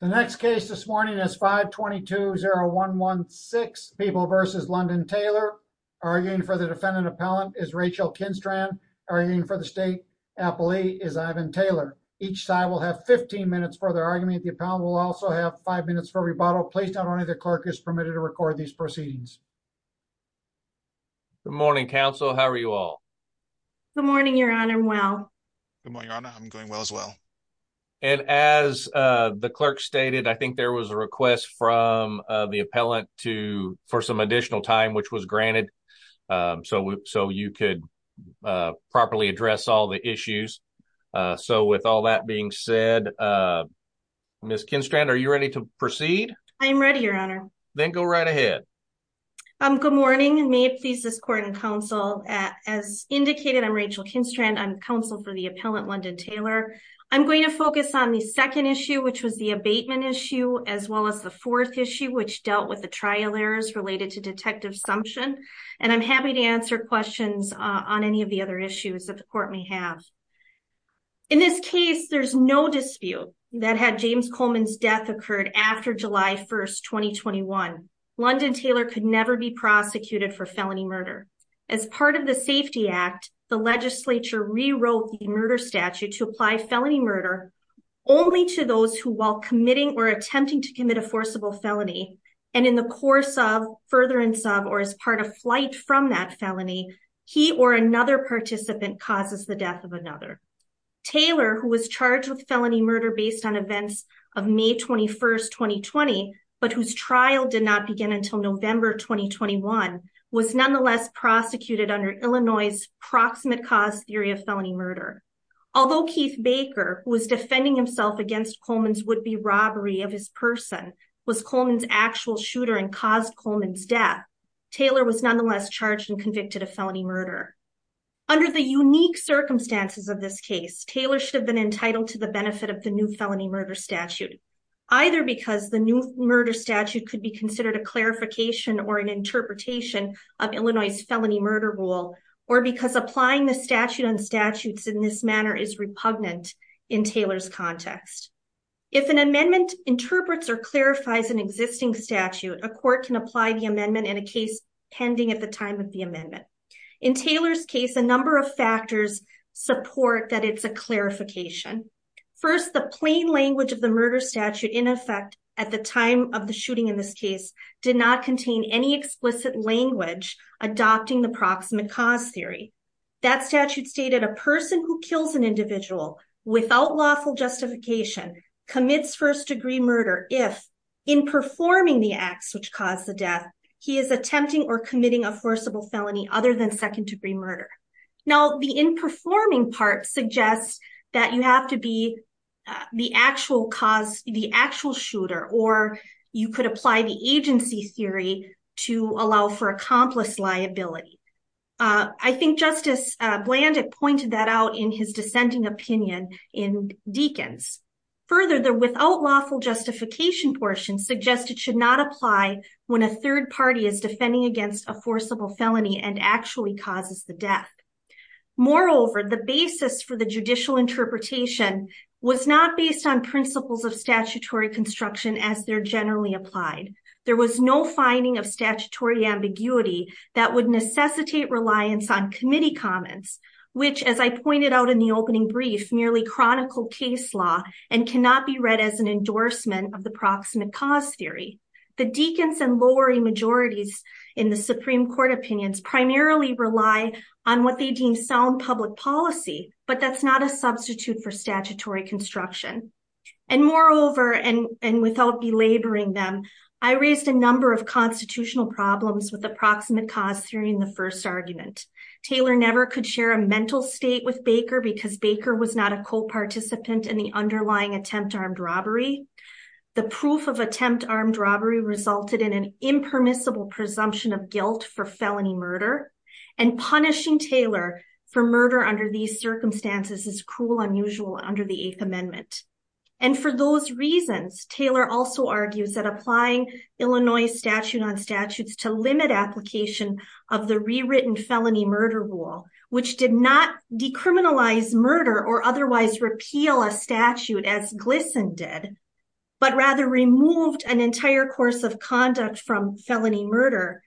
The next case this morning is 522 0116 people versus London Taylor arguing for the defendant appellant is Rachel Kinstran arguing for the state appellee is Ivan Taylor. Each side will have 15 minutes for their argument the appellant will also have five minutes for rebuttal please not only the clerk is permitted to record these proceedings. Good morning counsel how are you all? Good morning your honor well good morning your honor I'm going well as well and as the clerk stated I think there was a request from the appellant to for some additional time which was granted so so you could properly address all the issues so with all that being said Miss Kinstran are you ready to proceed? I am ready your honor. Then go right ahead. Good morning and may it please this court and counsel as indicated I'm Rachel Kinstran I'm counsel for the appellant London Taylor. I'm going to focus on the second issue which was the abatement issue as well as the fourth issue which dealt with the trial errors related to detective assumption and I'm happy to answer questions on any of the other issues that the court may have. In this case there's no dispute that had James Coleman's death occurred after July 1st 2021. London Taylor could never be prosecuted for felony murder as part of the safety act the legislature rewrote the murder statute to apply felony murder only to those who while committing or attempting to commit a forcible felony and in the course of further and sub or as part of flight from that felony he or another participant causes the death of another. Taylor who was charged with felony murder based on events of May 21st 2020 but whose trial did not begin until November 2021 was nonetheless prosecuted under Illinois's proximate cause theory of felony murder. Although Keith Baker was defending himself against Coleman's would-be robbery of his person was Coleman's actual shooter and caused Coleman's death Taylor was circumstances of this case Taylor should have been entitled to the benefit of the new felony murder statute either because the new murder statute could be considered a clarification or an interpretation of Illinois's felony murder rule or because applying the statute on statutes in this manner is repugnant in Taylor's context. If an amendment interprets or clarifies an existing statute a court can apply the amendment in a case pending at the time of the amendment. In Taylor's number of factors support that it's a clarification. First the plain language of the murder statute in effect at the time of the shooting in this case did not contain any explicit language adopting the proximate cause theory. That statute stated a person who kills an individual without lawful justification commits first degree murder if in performing the acts which cause the murder. Now the in performing part suggests that you have to be the actual cause the actual shooter or you could apply the agency theory to allow for accomplice liability. I think Justice Blandick pointed that out in his dissenting opinion in Deakins. Further the without lawful justification portion suggested should not apply when a third party is defending against a forcible felony and actually causes the death. Moreover the basis for the judicial interpretation was not based on principles of statutory construction as they're generally applied. There was no finding of statutory ambiguity that would necessitate reliance on committee comments which as I pointed out in the opening brief merely chronicle case law and cannot be read as an endorsement of the proximate cause theory. The Deakins and Lowery majorities in the Supreme Court opinions primarily rely on what they deem sound public policy but that's not a substitute for statutory construction. And moreover and and without belaboring them I raised a number of constitutional problems with approximate cause theory in the first argument. Taylor never could share a mental state with Baker because Baker was not a co-participant in the underlying attempt armed robbery. The proof of attempt armed robbery resulted in an impermissible presumption of guilt for felony murder and punishing Taylor for murder under these circumstances is cruel unusual under the eighth amendment. And for those reasons Taylor also argues that applying Illinois statute on statutes to limit application of the rewritten felony murder rule which did not decriminalize murder or otherwise repeal a statute as Glisson did but rather removed an entire course of conduct from felony murder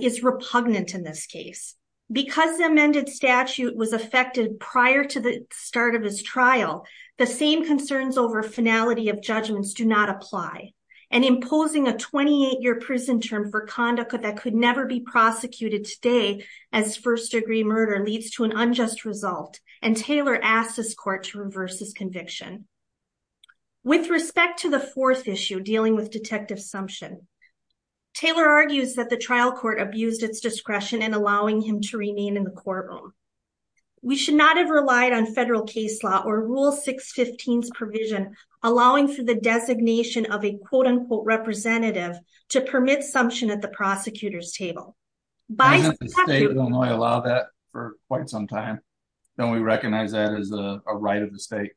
is repugnant in this case. Because the amended statute was affected prior to the start of his trial the same concerns over finality of judgments do not apply and imposing a 28-year prison term for conduct that could never be prosecuted today as first degree murder leads to an unjust result and Taylor asked his court to reverse his conviction. With respect to the fourth issue dealing with detective sumption Taylor argues that the trial court abused its discretion in allowing him to remain in the courtroom. We should not have relied on federal case law or rule 615's provision allowing for the designation of a quote-unquote representative to permit sumption at the prosecutor's table. Doesn't the state of Illinois allow that for quite some time? Don't we recognize that as a right of the state?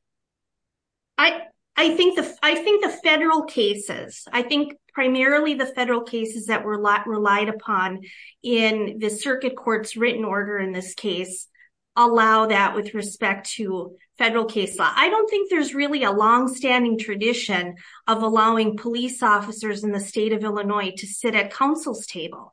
I think the federal cases I think primarily the federal cases that were relied upon in the circuit court's written order in this case allow that with respect to federal case law. I don't think there's really a long-standing tradition of allowing police officers in the state of Illinois to sit at council's table.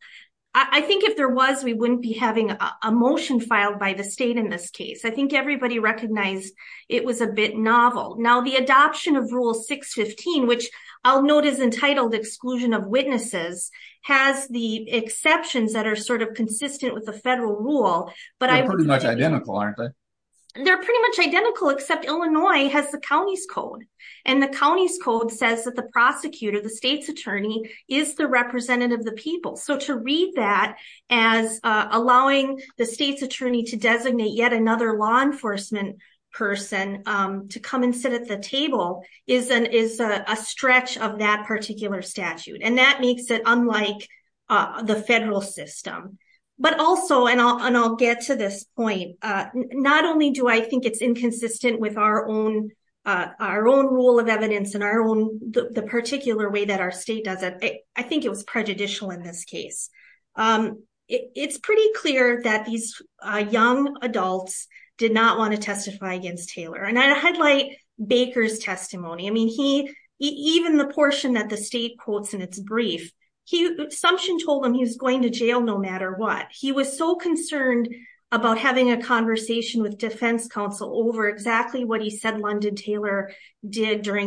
I think if there was we wouldn't be having a motion filed by the state in this case. I think everybody recognized it was a bit novel. Now the adoption of rule 615 which I'll note is entitled exclusion of witnesses has the exceptions that are sort of consistent with the federal rule but I'm pretty much identical aren't they? They're pretty much identical except Illinois has the county's code and the county's code says that the prosecutor, the state's attorney, is the representative of the people. So to read that as allowing the state's attorney to designate yet another law enforcement person to come and sit at the table is a stretch of that particular statute and that makes it unlike the federal system. But also and I'll get to this point, not only do I think it's inconsistent with our own rule of evidence in our own the particular way that our state does it I think it was prejudicial in this case. It's pretty clear that these young adults did not want to testify against Taylor and I highlight Baker's testimony. I mean he even the portion that the state quotes in its brief he assumption told him he was going to jail no matter what. He was so concerned about having a during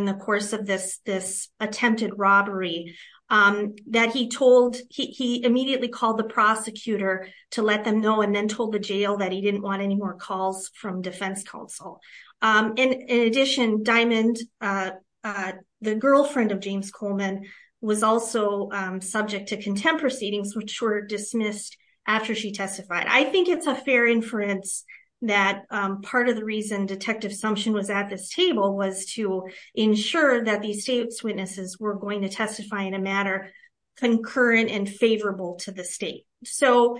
the course of this attempted robbery that he told he immediately called the prosecutor to let them know and then told the jail that he didn't want any more calls from defense counsel. In addition, Diamond, the girlfriend of James Coleman, was also subject to contempt proceedings which were dismissed after she testified. I think it's a fair inference that part of the reason detective assumption was at this table was to ensure that these state's witnesses were going to testify in a matter concurrent and favorable to the state. So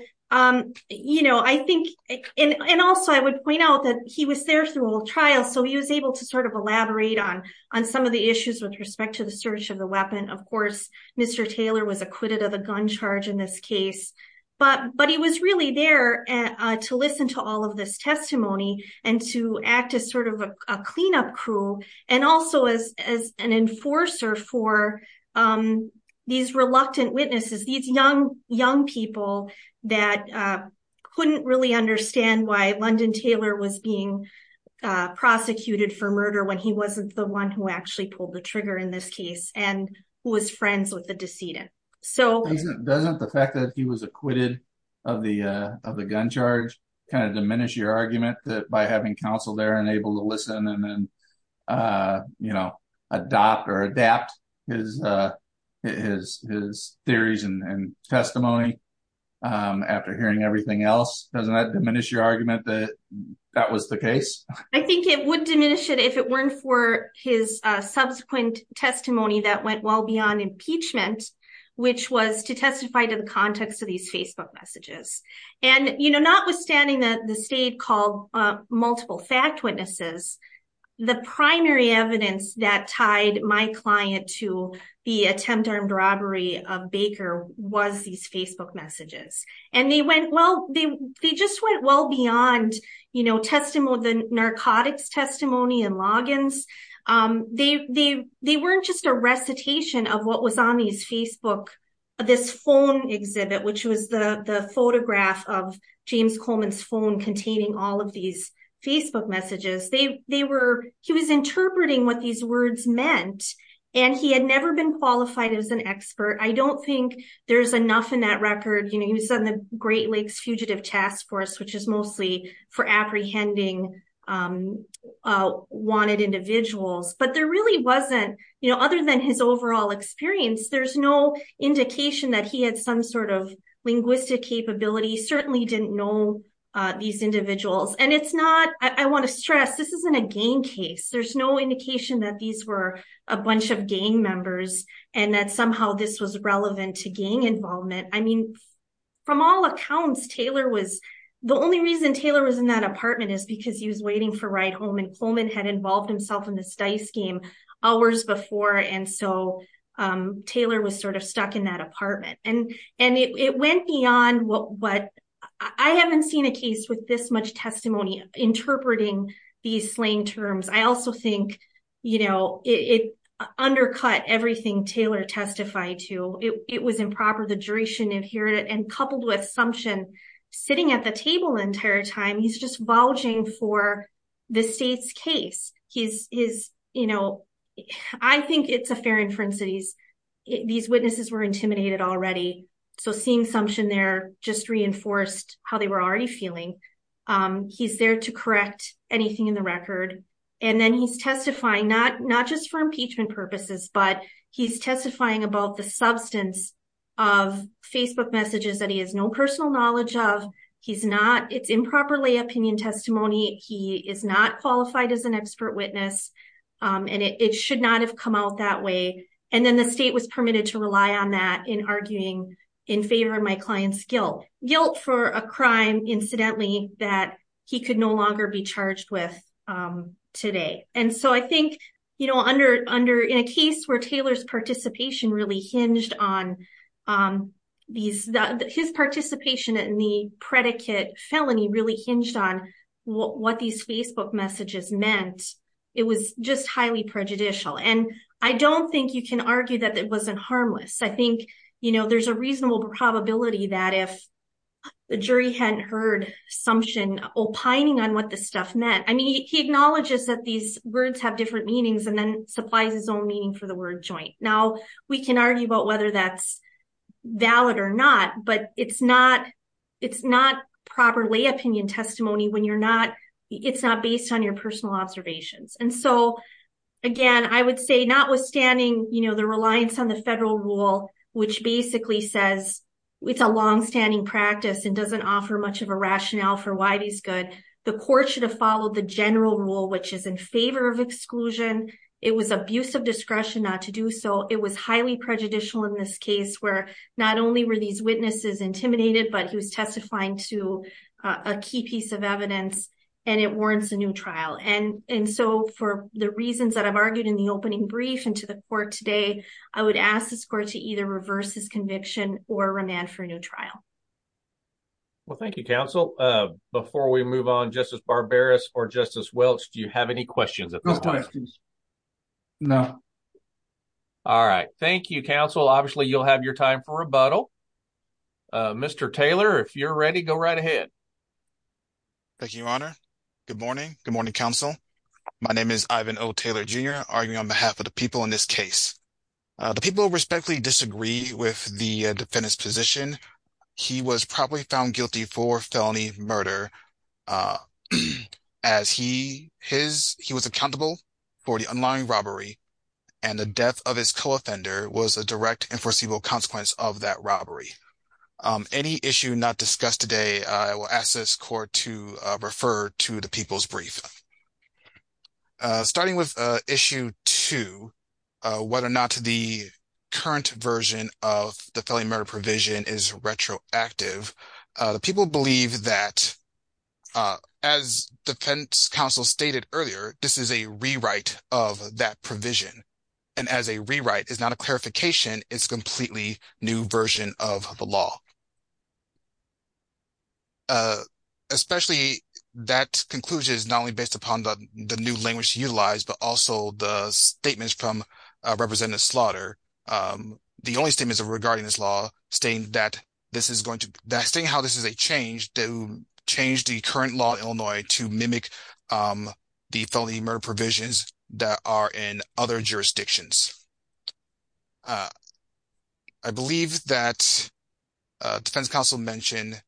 you know I think and also I would point out that he was there through a trial so he was able to sort of elaborate on on some of the issues with respect to the search of the weapon. Of course Mr. Taylor was acquitted of a gun charge in this case but but he was really there to listen to all of this testimony and to act as sort of a cleanup crew and also as as an enforcer for these reluctant witnesses. These young people that couldn't really understand why London Taylor was being prosecuted for murder when he wasn't the one who actually pulled the trigger in this case and who was friends with the decedent. So doesn't the fact that he was acquitted of the gun charge kind of diminish your argument that by having counsel there and able to listen and then you know adopt or adapt his theories and testimony after hearing everything else? Doesn't that diminish your argument that that was the case? I think it would diminish it if it weren't for his subsequent testimony that went well beyond impeachment which was to testify to context of these Facebook messages. Notwithstanding that the state called multiple fact witnesses, the primary evidence that tied my client to the attempt armed robbery of Baker was these Facebook messages. They just went well beyond the narcotics testimony and logins. They weren't just a recitation of what was on these Facebook, this phone exhibit which was the photograph of James Coleman's phone containing all of these Facebook messages. He was interpreting what these words meant and he had never been qualified as an expert. I don't think there's enough in that record. You know he was on the Great Lakes Fugitive Task Force which is mostly for apprehending wanted individuals but there really wasn't you know other than his overall experience there's no indication that he had some sort of linguistic capability. He certainly didn't know these individuals and it's not I want to stress this isn't a gang case. There's no indication that these were a bunch of gang members and that somehow this was relevant to gang involvement. I apartment is because he was waiting for ride home and Coleman had involved himself in this dice game hours before and so Taylor was sort of stuck in that apartment. It went beyond what I haven't seen a case with this much testimony interpreting these slain terms. I also think you know it undercut everything Taylor testified to. It was improper. The jury should inherit it and coupled with Sumption sitting at the table the entire time he's just vulging for the state's case. He's you know I think it's a fair inference that these witnesses were intimidated already so seeing Sumption there just reinforced how they were already feeling. He's there to correct anything in the record and then he's testifying not just for impeachment purposes but he's personal knowledge of. It's improperly opinion testimony. He is not qualified as an expert witness and it should not have come out that way and then the state was permitted to rely on that in arguing in favor of my client's guilt. Guilt for a crime incidentally that he could no longer be charged with today and so I think you know under in a case where Taylor's participation really hinged on these his participation in the predicate felony really hinged on what these Facebook messages meant. It was just highly prejudicial and I don't think you can argue that it wasn't harmless. I think you know there's a reasonable probability that if the jury hadn't heard Sumption opining on what this stuff meant. I mean he acknowledges that these words have different meanings and then supplies his own meaning for the word joint. Now we can argue about whether that's valid or not but it's not it's not properly opinion testimony when you're not it's not based on your personal observations and so again I would say notwithstanding you know the reliance on the federal rule which basically says it's a long-standing practice and doesn't offer much of a rationale for why these good the court should have followed the general rule which is in favor of exclusion. It was abuse of discretion not to do so it was highly prejudicial in this case where not only were these witnesses intimidated but he was testifying to a key piece of evidence and it warrants a new trial and and so for the reasons that I've argued in the opening brief and to the court today I would ask this court to either reverse his conviction or remand for a new trial. Well thank you counsel before we move on Justice Barbaros or Justice Welch do you have any questions at this time? No. All right thank you counsel obviously you'll have your time for rebuttal. Mr. Taylor if you're ready go right ahead. Thank you your honor. Good morning. Good morning counsel. My name is Ivan O. Taylor Jr. arguing on behalf of the people in this case. The people respectfully disagree with the defendant's found guilty for felony murder as he was accountable for the unlawful robbery and the death of his co-offender was a direct and foreseeable consequence of that robbery. Any issue not discussed today I will ask this court to refer to the people's brief. Starting with issue two whether or not the current version of the felony murder provision is retroactive. The people believe that as defense counsel stated earlier this is a rewrite of that provision and as a rewrite is not a clarification it's a completely new version of the law. Especially that conclusion is not only based upon the new language utilized but also the statements from representative Slaughter. The only statements regarding this law stating that this is going to that's saying how this is a change to change the current law in Illinois to mimic the felony murder provisions that are in other jurisdictions. I believe that defense counsel mentioned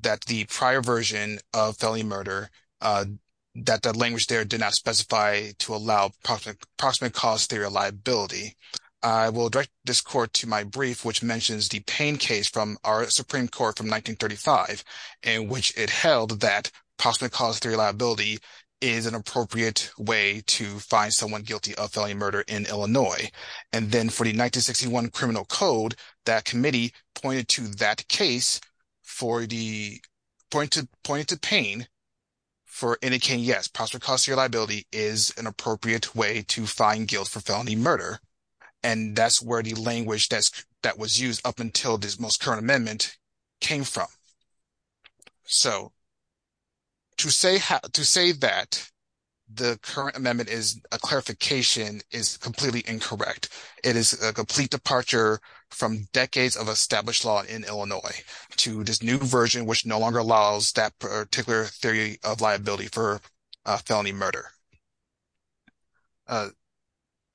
that the prior version of felony murder that the language there did not specify to allow approximate cost theory liability. I will direct this court to my brief which mentions the Payne case from our supreme court from 1935 in which it held that possibly cause theory liability is an appropriate way to find someone guilty of felony murder in Illinois and then for the 1961 criminal code that committee pointed to that case for the point to point to Payne for indicating yes possibly cost theory liability is an appropriate way to find guilt for felony murder. And that's where the language that was used up until this most current amendment came from. So to say that the current amendment is a clarification is completely incorrect. It is a complete departure from decades of established law in Illinois to this new version which no longer allows that particular theory of liability for felony murder.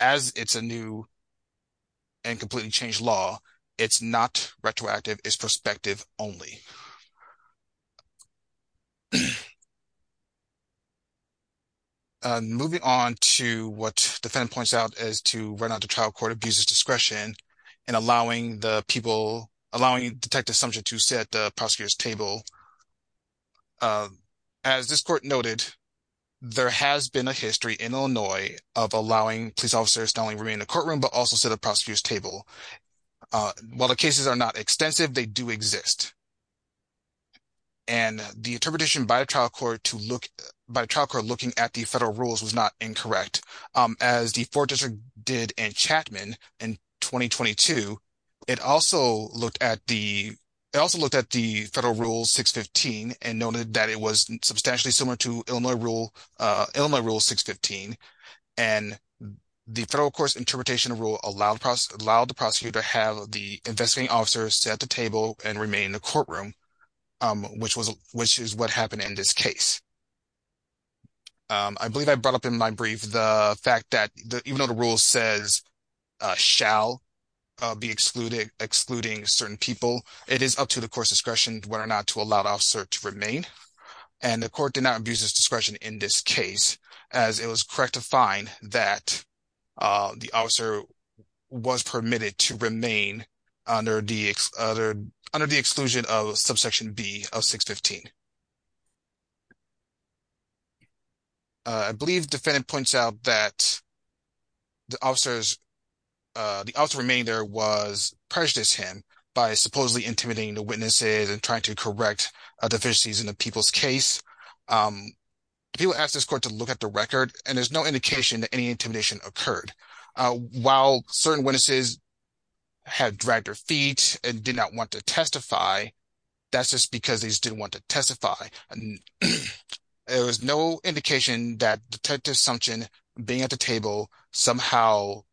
As it's a new and completely changed law, it's not retroactive, it's prospective only. Moving on to what the defendant points out as to why not the trial court abuses discretion and allowing the people allowing detective subject to sit at the prosecutor's table. As this court noted, there has been a history in Illinois of allowing police officers to only remain in the courtroom but also sit at prosecutor's table. While the cases are not extensive, they do exist. And the interpretation by the trial court to look by trial court looking at the federal rules was not incorrect. As the four district did in Chapman in 2022, it also looked at the it also looked at the federal rule 615 and noted that it was substantially similar to Illinois rule 615. And the federal court's interpretation of rule allowed the prosecutor to have the investigating officer sit at the table and remain in the courtroom, which is what happened in this case. I believe I brought up in my brief the fact that even though the rule says shall be excluding certain people, it is up to the court's discretion whether or not to allow the officer to remain. And the court did not abuse discretion in this case, as it was correct to find that the officer was permitted to remain under the exclusion of subsection B of 615. I believe the defendant points out that the officers, the officer remaining there was prejudiced him by supposedly intimidating the witnesses and trying to correct deficiencies in the people's case. People ask this court to look at the record, and there's no indication that any intimidation occurred. While certain witnesses had dragged their feet and did not want to testify, that's just because they didn't want to testify. There was no indication that detective's assumption being at the table somehow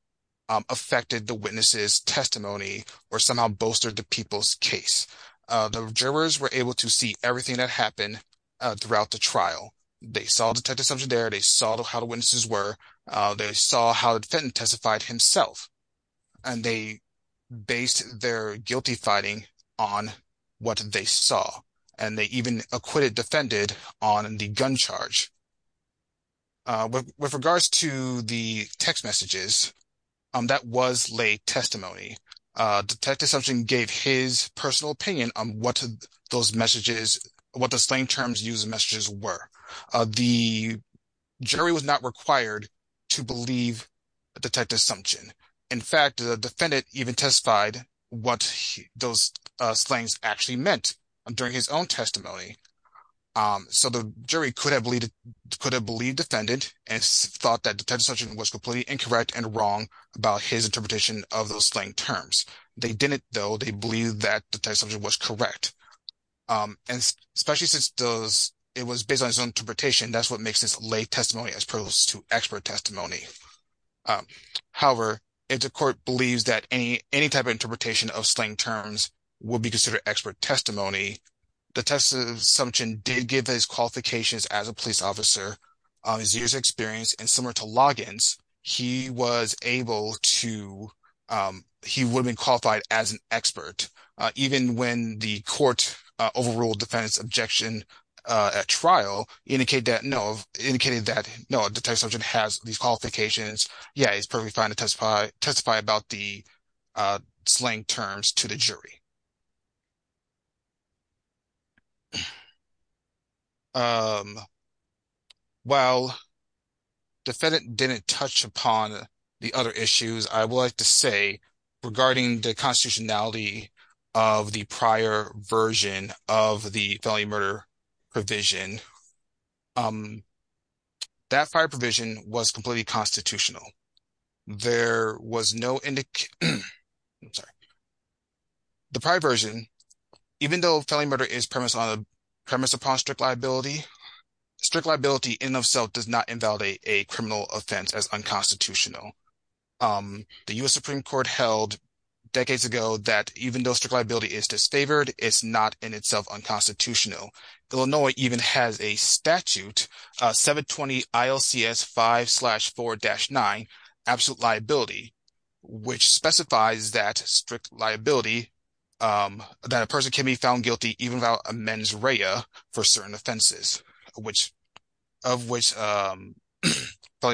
affected the witness's testimony or somehow bolstered the people's case. The jurors were able to see everything that happened throughout the trial. They saw detective's assumption there. They saw how the witnesses were. They saw how the defendant testified himself. And they based their guilty fighting on what they saw. And they even acquitted defendant on the gun charge. With regards to the text messages, that was late testimony. Detective's assumption gave his personal opinion on what those messages, what the slang terms used in messages were. In fact, the defendant even testified what those slangs actually meant during his own testimony. So the jury could have believed defendant and thought that detective's assumption was completely incorrect and wrong about his interpretation of those slang terms. They didn't, though. They believed that detective's assumption was correct. And especially since it was based on his own interpretation, that's what makes this late testimony as opposed to expert testimony. However, if the court believes that any type of interpretation of slang terms would be considered expert testimony, detective's assumption did give his qualifications as a police officer, his years of experience, and similar to Loggins, he was able to, he would have been qualified as an expert, even when the court overruled defendant's objection at trial, indicate that, no, indicated that, no, detective's assumption has these qualifications. Yeah, he's perfectly fine to testify about the slang terms to the jury. While defendant didn't touch upon the other issues, I would like to say regarding the case, that prior provision was completely constitutional. There was no indication, I'm sorry, the prior version, even though felony murder is premised upon strict liability, strict liability in itself does not invalidate a criminal offense as unconstitutional. The U.S. Supreme Court held decades ago that even though strict liability is disfavored, it's not in itself unconstitutional. Illinois even has a statute, 720 ILCS 5-4-9, absolute liability, which specifies that strict liability, that a person can be found guilty even without a mens rea for certain offenses, of which felony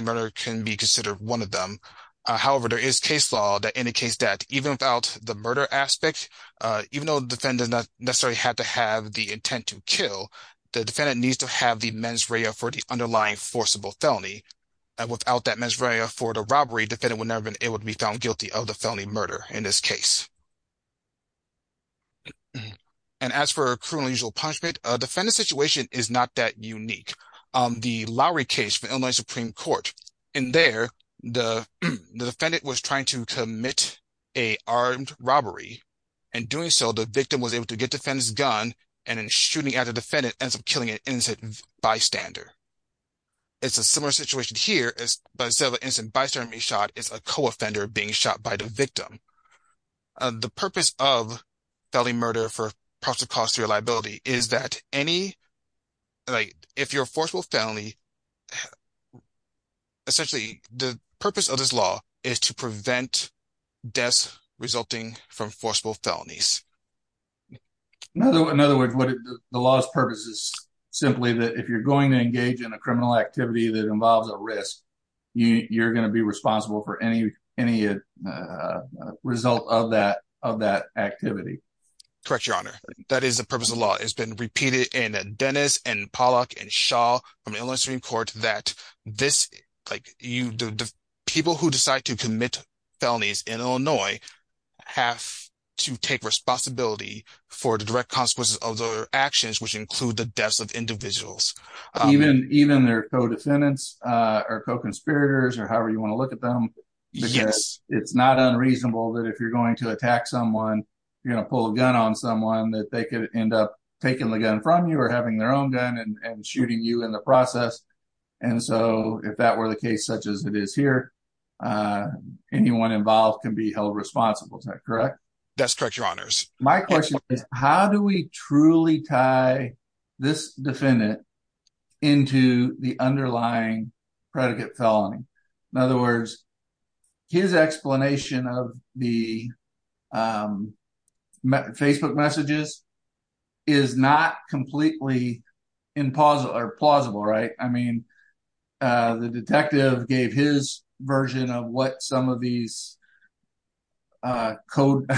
murder can be considered one of them. However, there is case law that indicates that even without the murder aspect, even though the defendant does not necessarily have to have the intent to kill, the defendant needs to have the mens rea for the underlying forcible felony. Without that mens rea for the robbery, defendant would never have been able to be found guilty of the felony murder in this case. And as for criminal usual punishment, defendant's situation is not that unique. The Lowry case from Illinois Supreme Court, in there, the defendant was trying to commit a armed robbery, and doing so, the victim was able to get the defendant's gun, and then shooting at the defendant ends up killing an innocent bystander. It's a similar situation here, but instead of an innocent bystander being shot, it's a co-offender being shot by the victim. The purpose of felony murder for proximate cause of liability is that any, like, if you're a forcible felony, essentially, the purpose of this law is to prevent deaths resulting from forcible felonies. In other words, the law's purpose is simply that if you're going to engage in a criminal activity that involves a risk, you're going to be responsible for any result of that activity. Correct, Your Honor. That is the purpose of the law. It's been repeated in Dennis, and Pollock, and Shaw from Illinois Supreme Court that people who decide to commit felonies in Illinois have to take responsibility for the direct consequences of their actions, which include the deaths of individuals. Even their co-defendants, or co-conspirators, or however you want to look at them, because it's not unreasonable that if you're going to attack someone, you're going to pull a gun on someone, that they could end up taking the gun from you or having their own gun and shooting you in the process. And so if that were the case, such as it is here, anyone involved can be held responsible. Is that correct? That's correct, Your Honors. My question is, how do we truly tie this defendant into the underlying predicate felony? In other words, his explanation of the Facebook messages is not completely plausible, right? I mean, the detective gave his version of what some of these code...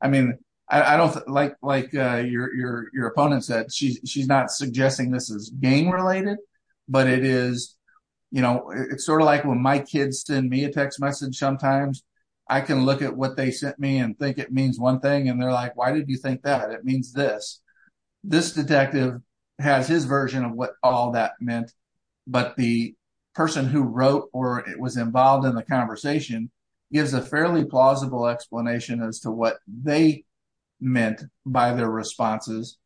I mean, like your opponent said, she's not suggesting this is game-related, but it is, you know, it's sort of like when my kids send me a text message sometimes, I can look at what they sent me and think it means one thing, and they're like, why did you think that? It means this. This detective has his version of what all that meant, but the person who wrote or was involved in the conversation gives a fairly plausible explanation as to what they meant by their responses.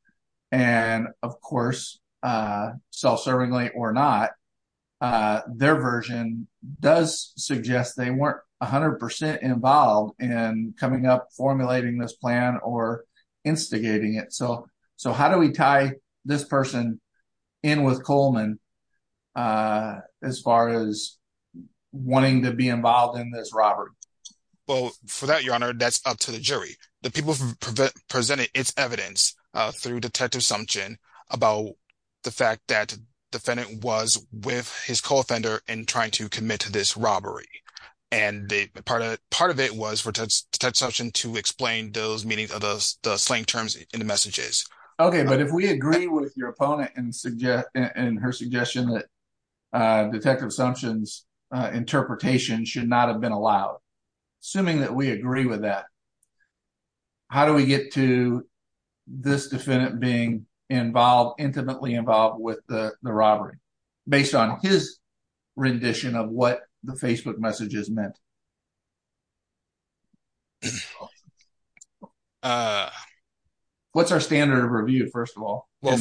And of course, self-servingly or not, their version does suggest they weren't 100% involved in coming up, formulating this plan or instigating it. So how do we tie this person in with Coleman as far as wanting to be involved in this robbery? Well, for that, Your Honor, that's up to the jury. The people presented its evidence through Detective Sumption about the fact that the defendant was with his co-offender in trying to commit to this robbery. And part of it was for Detective Sumption to explain those meanings of the slang terms in the messages. Okay, but if we agree with your opponent and her suggestion that Detective Sumption's interpretation should not have been allowed, assuming that we agree with that, how do we get to this defendant being involved, intimately involved with the robbery based on his rendition of what the Facebook messages meant? What's our standard of review, first of all? Well,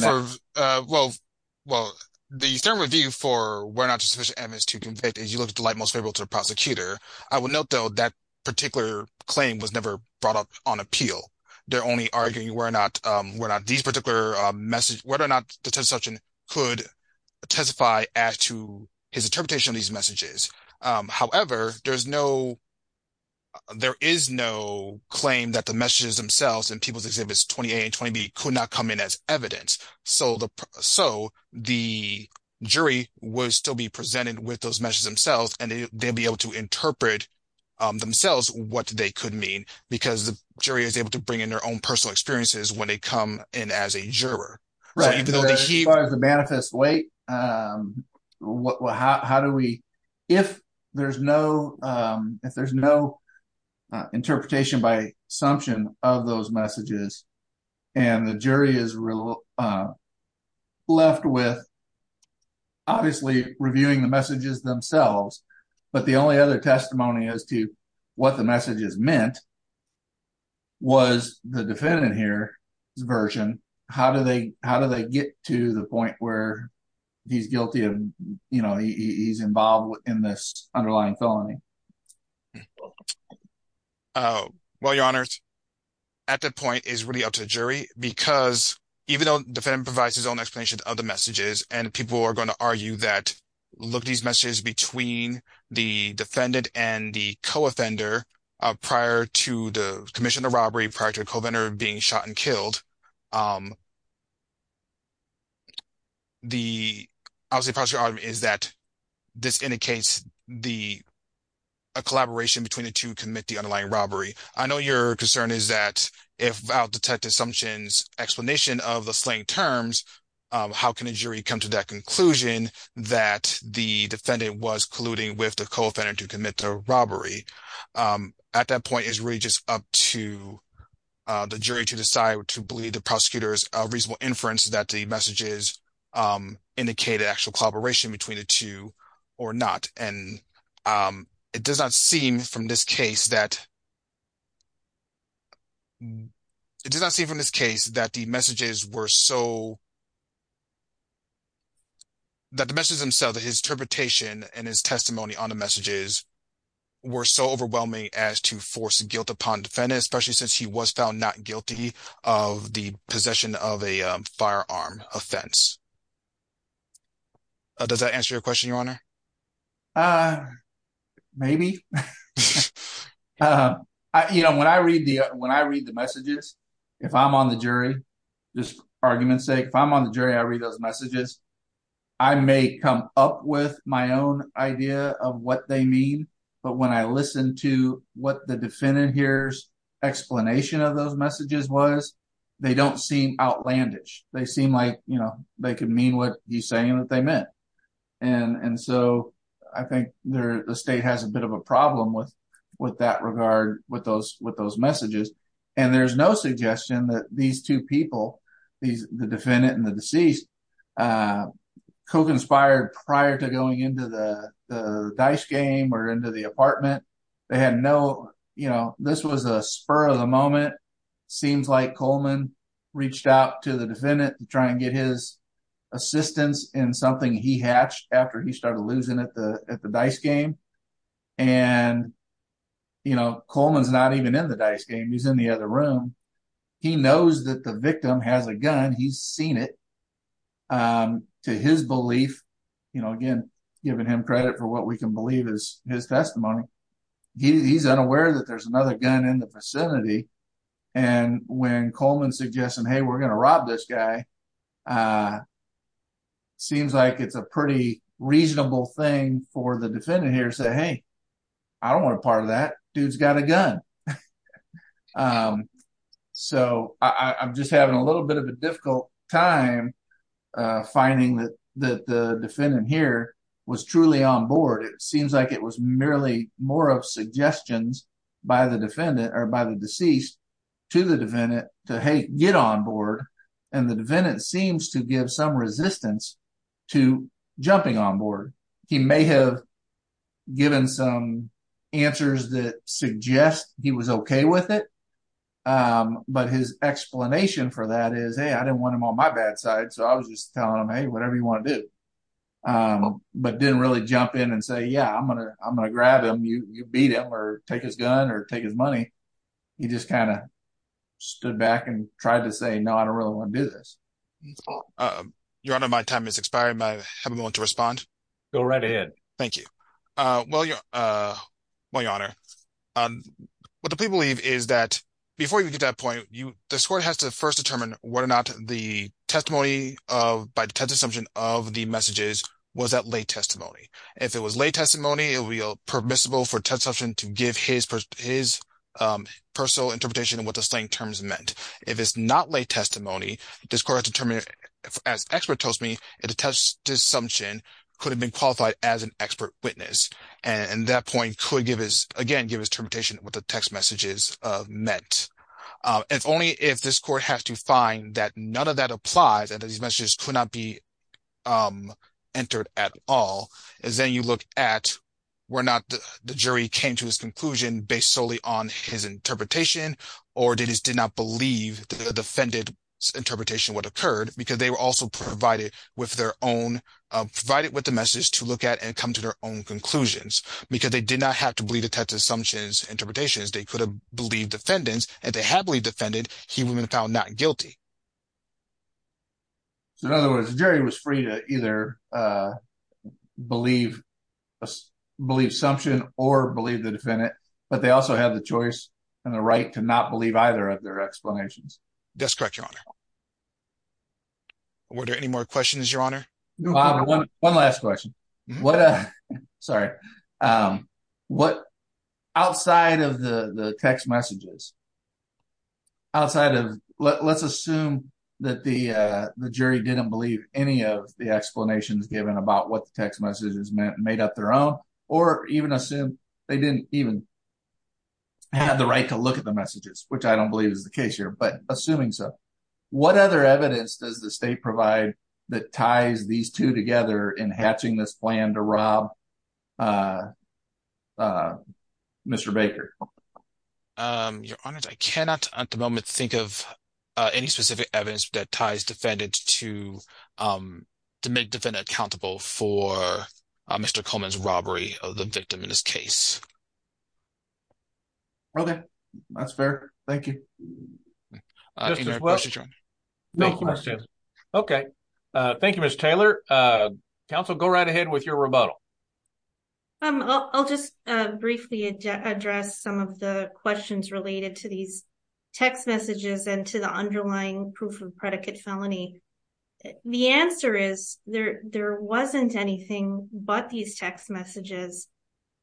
the standard review for where not just sufficient evidence to convict is you look at the light most favorable to the prosecutor. I will note, though, that particular claim was never brought up on appeal. They're only arguing whether or not the Detective Sumption could testify as to his interpretation of these messages. However, there is no claim that the messages themselves in People's Exhibits 28 and 20B could not come in as evidence. So the jury would still be presented with those messages themselves, and they'd be able to interpret themselves what they could mean, because the jury is able to bring in their own personal experiences when they come in as a juror. As far as the manifest weight, if there's no interpretation by Sumption of those messages and the jury is left with, obviously, reviewing the messages themselves, but the only other testimony as to what the messages meant was the defendant here's version. How do they get to the point where he's guilty of, you know, he's involved in this underlying felony? Well, Your Honor, at that point, it's really up to the jury, because even though the defendant provides his own explanation of the messages, and people are going to argue that look at these messages between the defendant and the co-offender prior to the commission of the robbery, prior to the co-offender being shot and killed. The obviously, the problem is that this indicates a collaboration between the two who commit the underlying robbery. I know your concern is that if without Detective Sumption's explanation of the slaying terms, how can a jury come to that conclusion that the defendant was colluding with the co-offender to commit the robbery? At that point, it's really just up to the jury to decide to believe the prosecutor's reasonable inference that the messages indicated actual collaboration between the two or not. And it does not seem from this case that it does not seem from this case that the messages were so that the message himself that his interpretation and his testimony on the messages were so overwhelming as to force guilt upon defendants, especially since he was found not guilty of the possession of a firearm offense. Does that answer your question, Your Honor? Uh, maybe. You know, when I read the when I read the messages, if I'm on the jury, this argument sake, if I'm on the jury, I read those messages. I may come up with my own idea of what they mean. But when I listen to what the defendant here's explanation of those messages was, they don't seem outlandish. They seem like, you know, they could mean what he's saying that they meant. And so I think the state has a bit of a problem with with that regard, with those with those messages. And there's no suggestion that these two people, the defendant and the deceased, conspired prior to going into the dice game or into the apartment. They had no, you know, this was a spur of the moment. Seems like Coleman reached out to the defendant to try and get his assistance in something he hatched after he started losing at the dice game. And, you know, Coleman's not even in the dice game. He's in the other room. He knows that the victim has a gun. He's seen it to his belief, you know, again, giving him credit for what we can believe is his testimony. He's unaware that there's another gun in the vicinity. And when Coleman suggests, hey, we're going to rob this guy. Seems like it's a pretty reasonable thing for the defendant here to say, hey, I don't want a part of that. Dude's got a gun. So I'm just having a little bit of a difficult time finding that the defendant here was truly on board. It seems like it was merely more of suggestions by the defendant or by the deceased to the defendant to get on board. And the defendant seems to give some resistance to jumping on board. He may have given some answers that suggest he was OK with it. But his explanation for that is, hey, I don't want him on my bad side. So I was just telling him, hey, whatever you want to do. But didn't really jump in and say, yeah, I'm going to I'm going to grab him. You beat him or take his gun or take his money. He just kind of stood back and tried to say, no, I don't really want to do this. Your honor, my time is expiring. I have a moment to respond. Go right ahead. Thank you. Well, your honor, what the people believe is that before you get that point, the court has to first determine whether or not the testimony of by the test assumption of the messages was that late testimony. If it was late testimony, it would be permissible for a test option to give his his personal interpretation of what the slang terms meant. If it's not late testimony, this court has to determine, as the expert tells me, the test assumption could have been qualified as an expert witness. And that point could give us again, give us termination with the text messages meant. If only if this court has to find that none of that applies, that these messages could not be entered at all, as then you look at where not the jury came to his conclusion based solely on his interpretation or did he did not believe the defendant's interpretation what occurred because they were also provided with their own provided with the message to look at and come to their own conclusions because they did not have to believe the test assumptions interpretations. They could have believed defendants and they happily defended. He would have been found not guilty. So in other words, Jerry was free to either believe, believe assumption or believe the defendant, but they also have the choice and the right to not believe either of their explanations. That's correct. Your Honor. Were there any more questions? Your Honor? One last question. What, uh, sorry, um, what outside of the, the text messages outside of let's assume that the, uh, the jury didn't believe any of the explanations given about what the text messages meant and made up their own, or even assume they didn't even have the right to look at the messages, which I don't believe is the case here, but assuming so, what other evidence does the state provide that ties these two together in hatching this plan to rob, uh, uh, Mr. Baker. Um, your Honor, I cannot at the moment think of, uh, any specific evidence that ties defendant to, um, to make defendant accountable for, uh, Mr. Coleman's robbery of the victim in this case. Okay. That's fair. Thank you. Okay. Thank you, Mr. Taylor. Uh, counsel, go right ahead with your rebuttal. Um, I'll just, uh, briefly address some of the questions related to these text messages and to the underlying proof of predicate felony. The answer is there, there wasn't anything, but these text messages,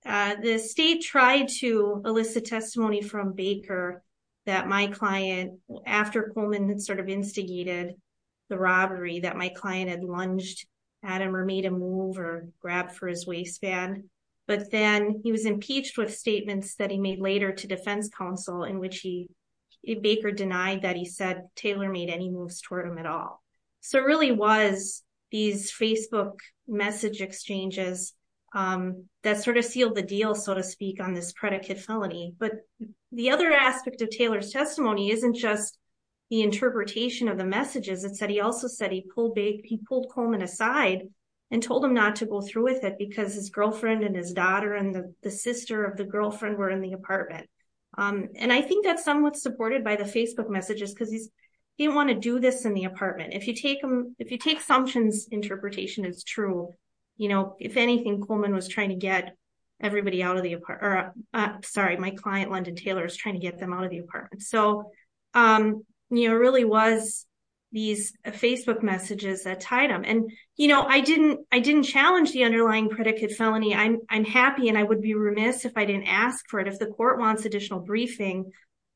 uh, the state tried to elicit testimony from Baker that my client after Coleman had sort of instigated the robbery that my client had lunged at him or made him move or grab for his waistband. But then he was impeached with statements that he made later to defense counsel in which he Baker denied that he said Taylor made any moves toward him at all. So it really was these Facebook message exchanges, um, that sort of sealed the deal, so to speak on this predicate felony. But the other aspect of Taylor's testimony, isn't just the interpretation of the messages that said, he also said he pulled big, he pulled Coleman aside and told him not to go through with it because his girlfriend and his daughter and the sister of the girlfriend were in the apartment. Um, and I think that's somewhat supported by the Facebook messages. Cause he's, he didn't want to do this in the apartment. If you take them, if you take functions interpretation, it's true. You know, if anything, Coleman was trying to get everybody out of the apartment, sorry, my client, London Taylor is trying to get them out of the apartment. So, um, you know, it really was these Facebook messages that tied them. And, you know, I didn't, I didn't challenge the underlying predicate felony. I'm, I'm happy. And I would be remiss if I didn't ask for it. If the court wants additional briefing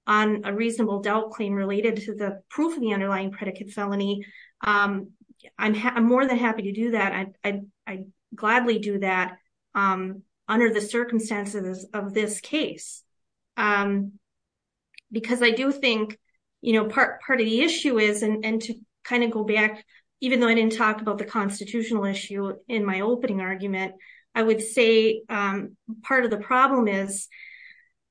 on a reasonable doubt claim related to the proof of the underlying predicate felony. Um, I'm more than happy to do that. I gladly do that, um, under the circumstances of this case, um, because I do think, you know, part, part of the issue is, and to kind of go back, even though I didn't talk about the constitutional issue in my opening argument, I would say, um, part of the problem is,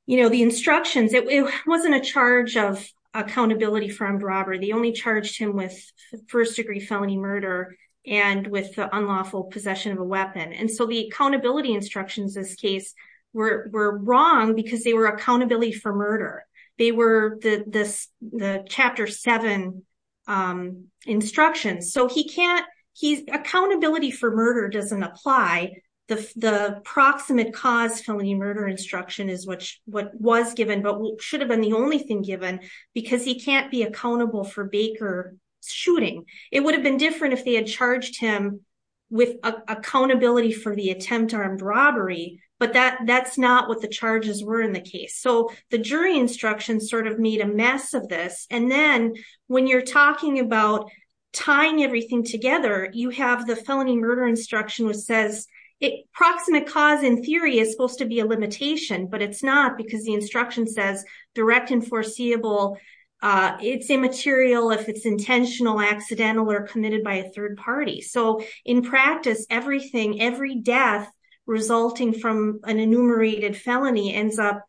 you know, the instructions, it wasn't a charge of accountability for armed robbery. They only charged him with first degree felony murder and with the unlawful possession of a weapon. And so the accountability instructions, this case were, were wrong because they were accountability for murder. They were the, this, the chapter seven, um, instructions. So he can't, he's accountability for murder doesn't apply. The, the proximate cause felony murder instruction is what, what was given, but should have been the only thing given because he can't be accountable for Baker shooting. It would have been different if they had charged him with accountability for the attempt armed robbery, but that that's not what the charges were in the case. So the jury instruction sort of made a mess of this. And then when you're talking about tying everything together, you have the felony murder instruction which says it proximate cause in theory is supposed to be a limitation, but it's not because the instruction says direct and foreseeable, uh, it's immaterial if it's intentional, accidental or committed by a third party. So in practice, everything, every death resulting from an enumerated felony ends up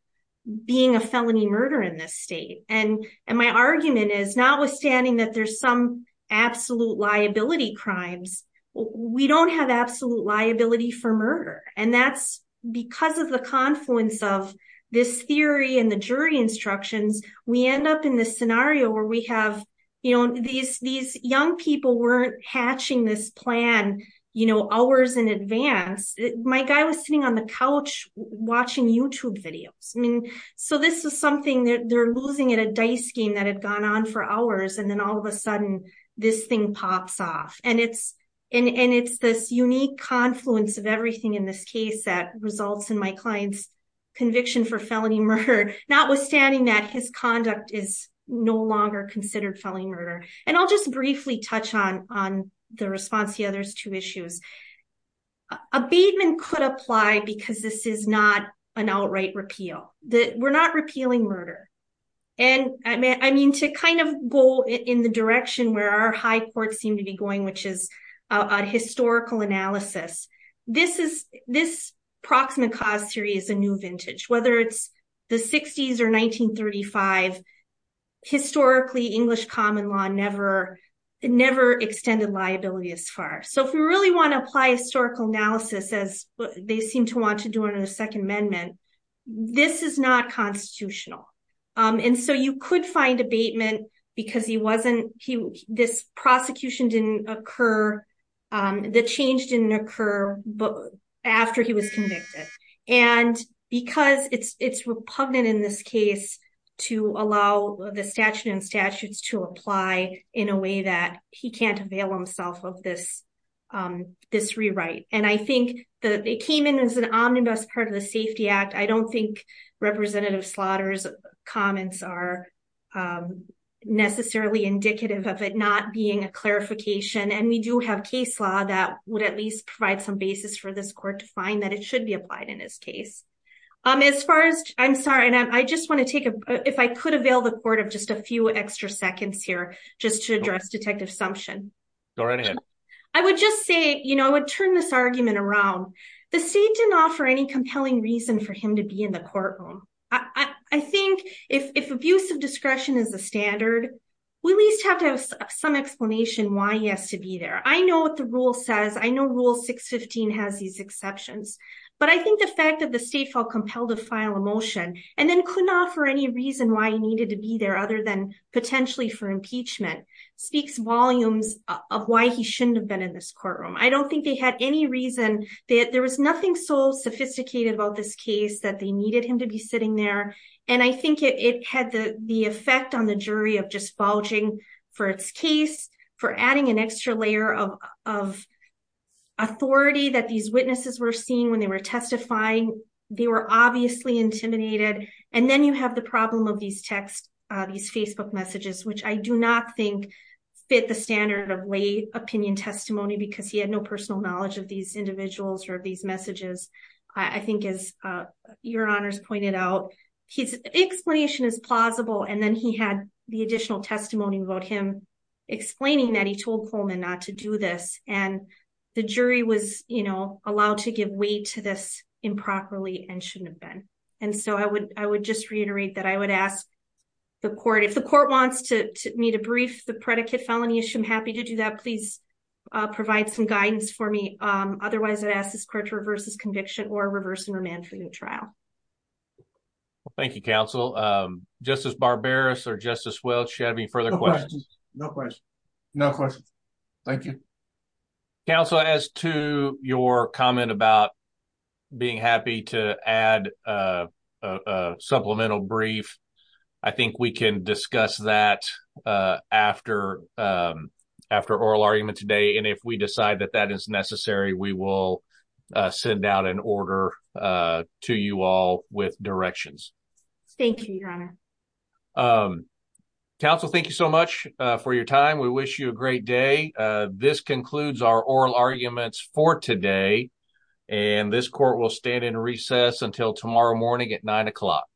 being a felony murder in this state. And, and my argument is not withstanding that there's some absolute liability crimes, we don't have absolute liability for murder. And that's because of the confluence of this theory and the jury instructions, we end up in this scenario where we have, you know, these, these young people weren't hatching this plan, you know, hours in advance. My guy was sitting on the couch watching YouTube videos. I mean, so this is something that they're losing at a dice game that had gone on for hours. And then all of a sudden this thing pops off and it's, and, and it's this unique confluence of everything in this case that results in my client's conviction for felony murder, notwithstanding that his conduct is no longer considered felony murder. And I'll just briefly touch on, on the response to the other two issues. Abatement could apply because this is not an outright repeal, that we're not repealing murder. And I mean, to kind of go in the direction where our high courts seem to be going, which is a historical analysis, this is, this proximate cause theory is a new vintage, whether it's the 60s or 1935. Historically, English common law never, never extended liability as far. So if we really want to apply historical analysis as they seem to want to do in a second amendment, this is not constitutional. And so you could find abatement because he wasn't, he, this prosecution didn't occur. The change didn't occur, but after he was convicted and because it's, it's repugnant in this case to allow the statute and statutes to apply in a way that he can't avail himself of this, this rewrite. And I think that they came in as an omnibus part of the safety act. I don't think representative Slaughter's comments are necessarily indicative of it not being a clarification. And we do have case law that would at least provide some basis for this court to find that it should be applied in this case. As far as, I'm sorry. And I just want to take a, if I could avail the court of just a few extra seconds here, just to address detective Sumption, I would just say, you know, I would turn this argument around. The state didn't offer any compelling reason for him to be in the courtroom. I think if, if abuse of discretion is the standard, we at least have to have some explanation why he has to be there. I know what the rule says. I know rule 615 has these exceptions, but I think the fact that the state felt compelled to file a motion and then could not for any reason why he needed to be there other than potentially for impeachment speaks volumes of why he shouldn't have been in this courtroom. I don't think they had any reason that there was nothing so sophisticated about this case that they needed him to be sitting there. And I think it had the effect on the jury of just bulging for its case, for adding an extra layer of authority that these witnesses were seeing when they were testifying, they were obviously intimidated. And then you have the problem of these texts, these Facebook messages, which I do not think fit the standard of lay opinion testimony because he had no personal knowledge of these individuals or these messages. I think as your honors pointed out, his explanation is plausible. And then he had the additional testimony about him explaining that he told Coleman not to do this. And the jury was, you know, allowed to give weight to this improperly and shouldn't have been. And so I would, I would just reiterate that I would ask the court if the court wants to meet a brief, the predicate felony issue, I'm happy to do that. Please provide some guidance for me. Otherwise, I ask this court to reverse this conviction or reverse and remand for the trial. Well, thank you, counsel. Justice Barberis or Justice Welch, do you have any further questions? No questions. No questions. Thank you. Counsel, as to your comment about being happy to add a supplemental brief, I think we can discuss that after oral argument today. And if we decide that that is necessary, we will send out an order to you all with directions. Thank you, your honor. Counsel, thank you so much for your time. We wish you a great day. This concludes our oral arguments for today. And this court will stand in recess until tomorrow morning at nine o'clock.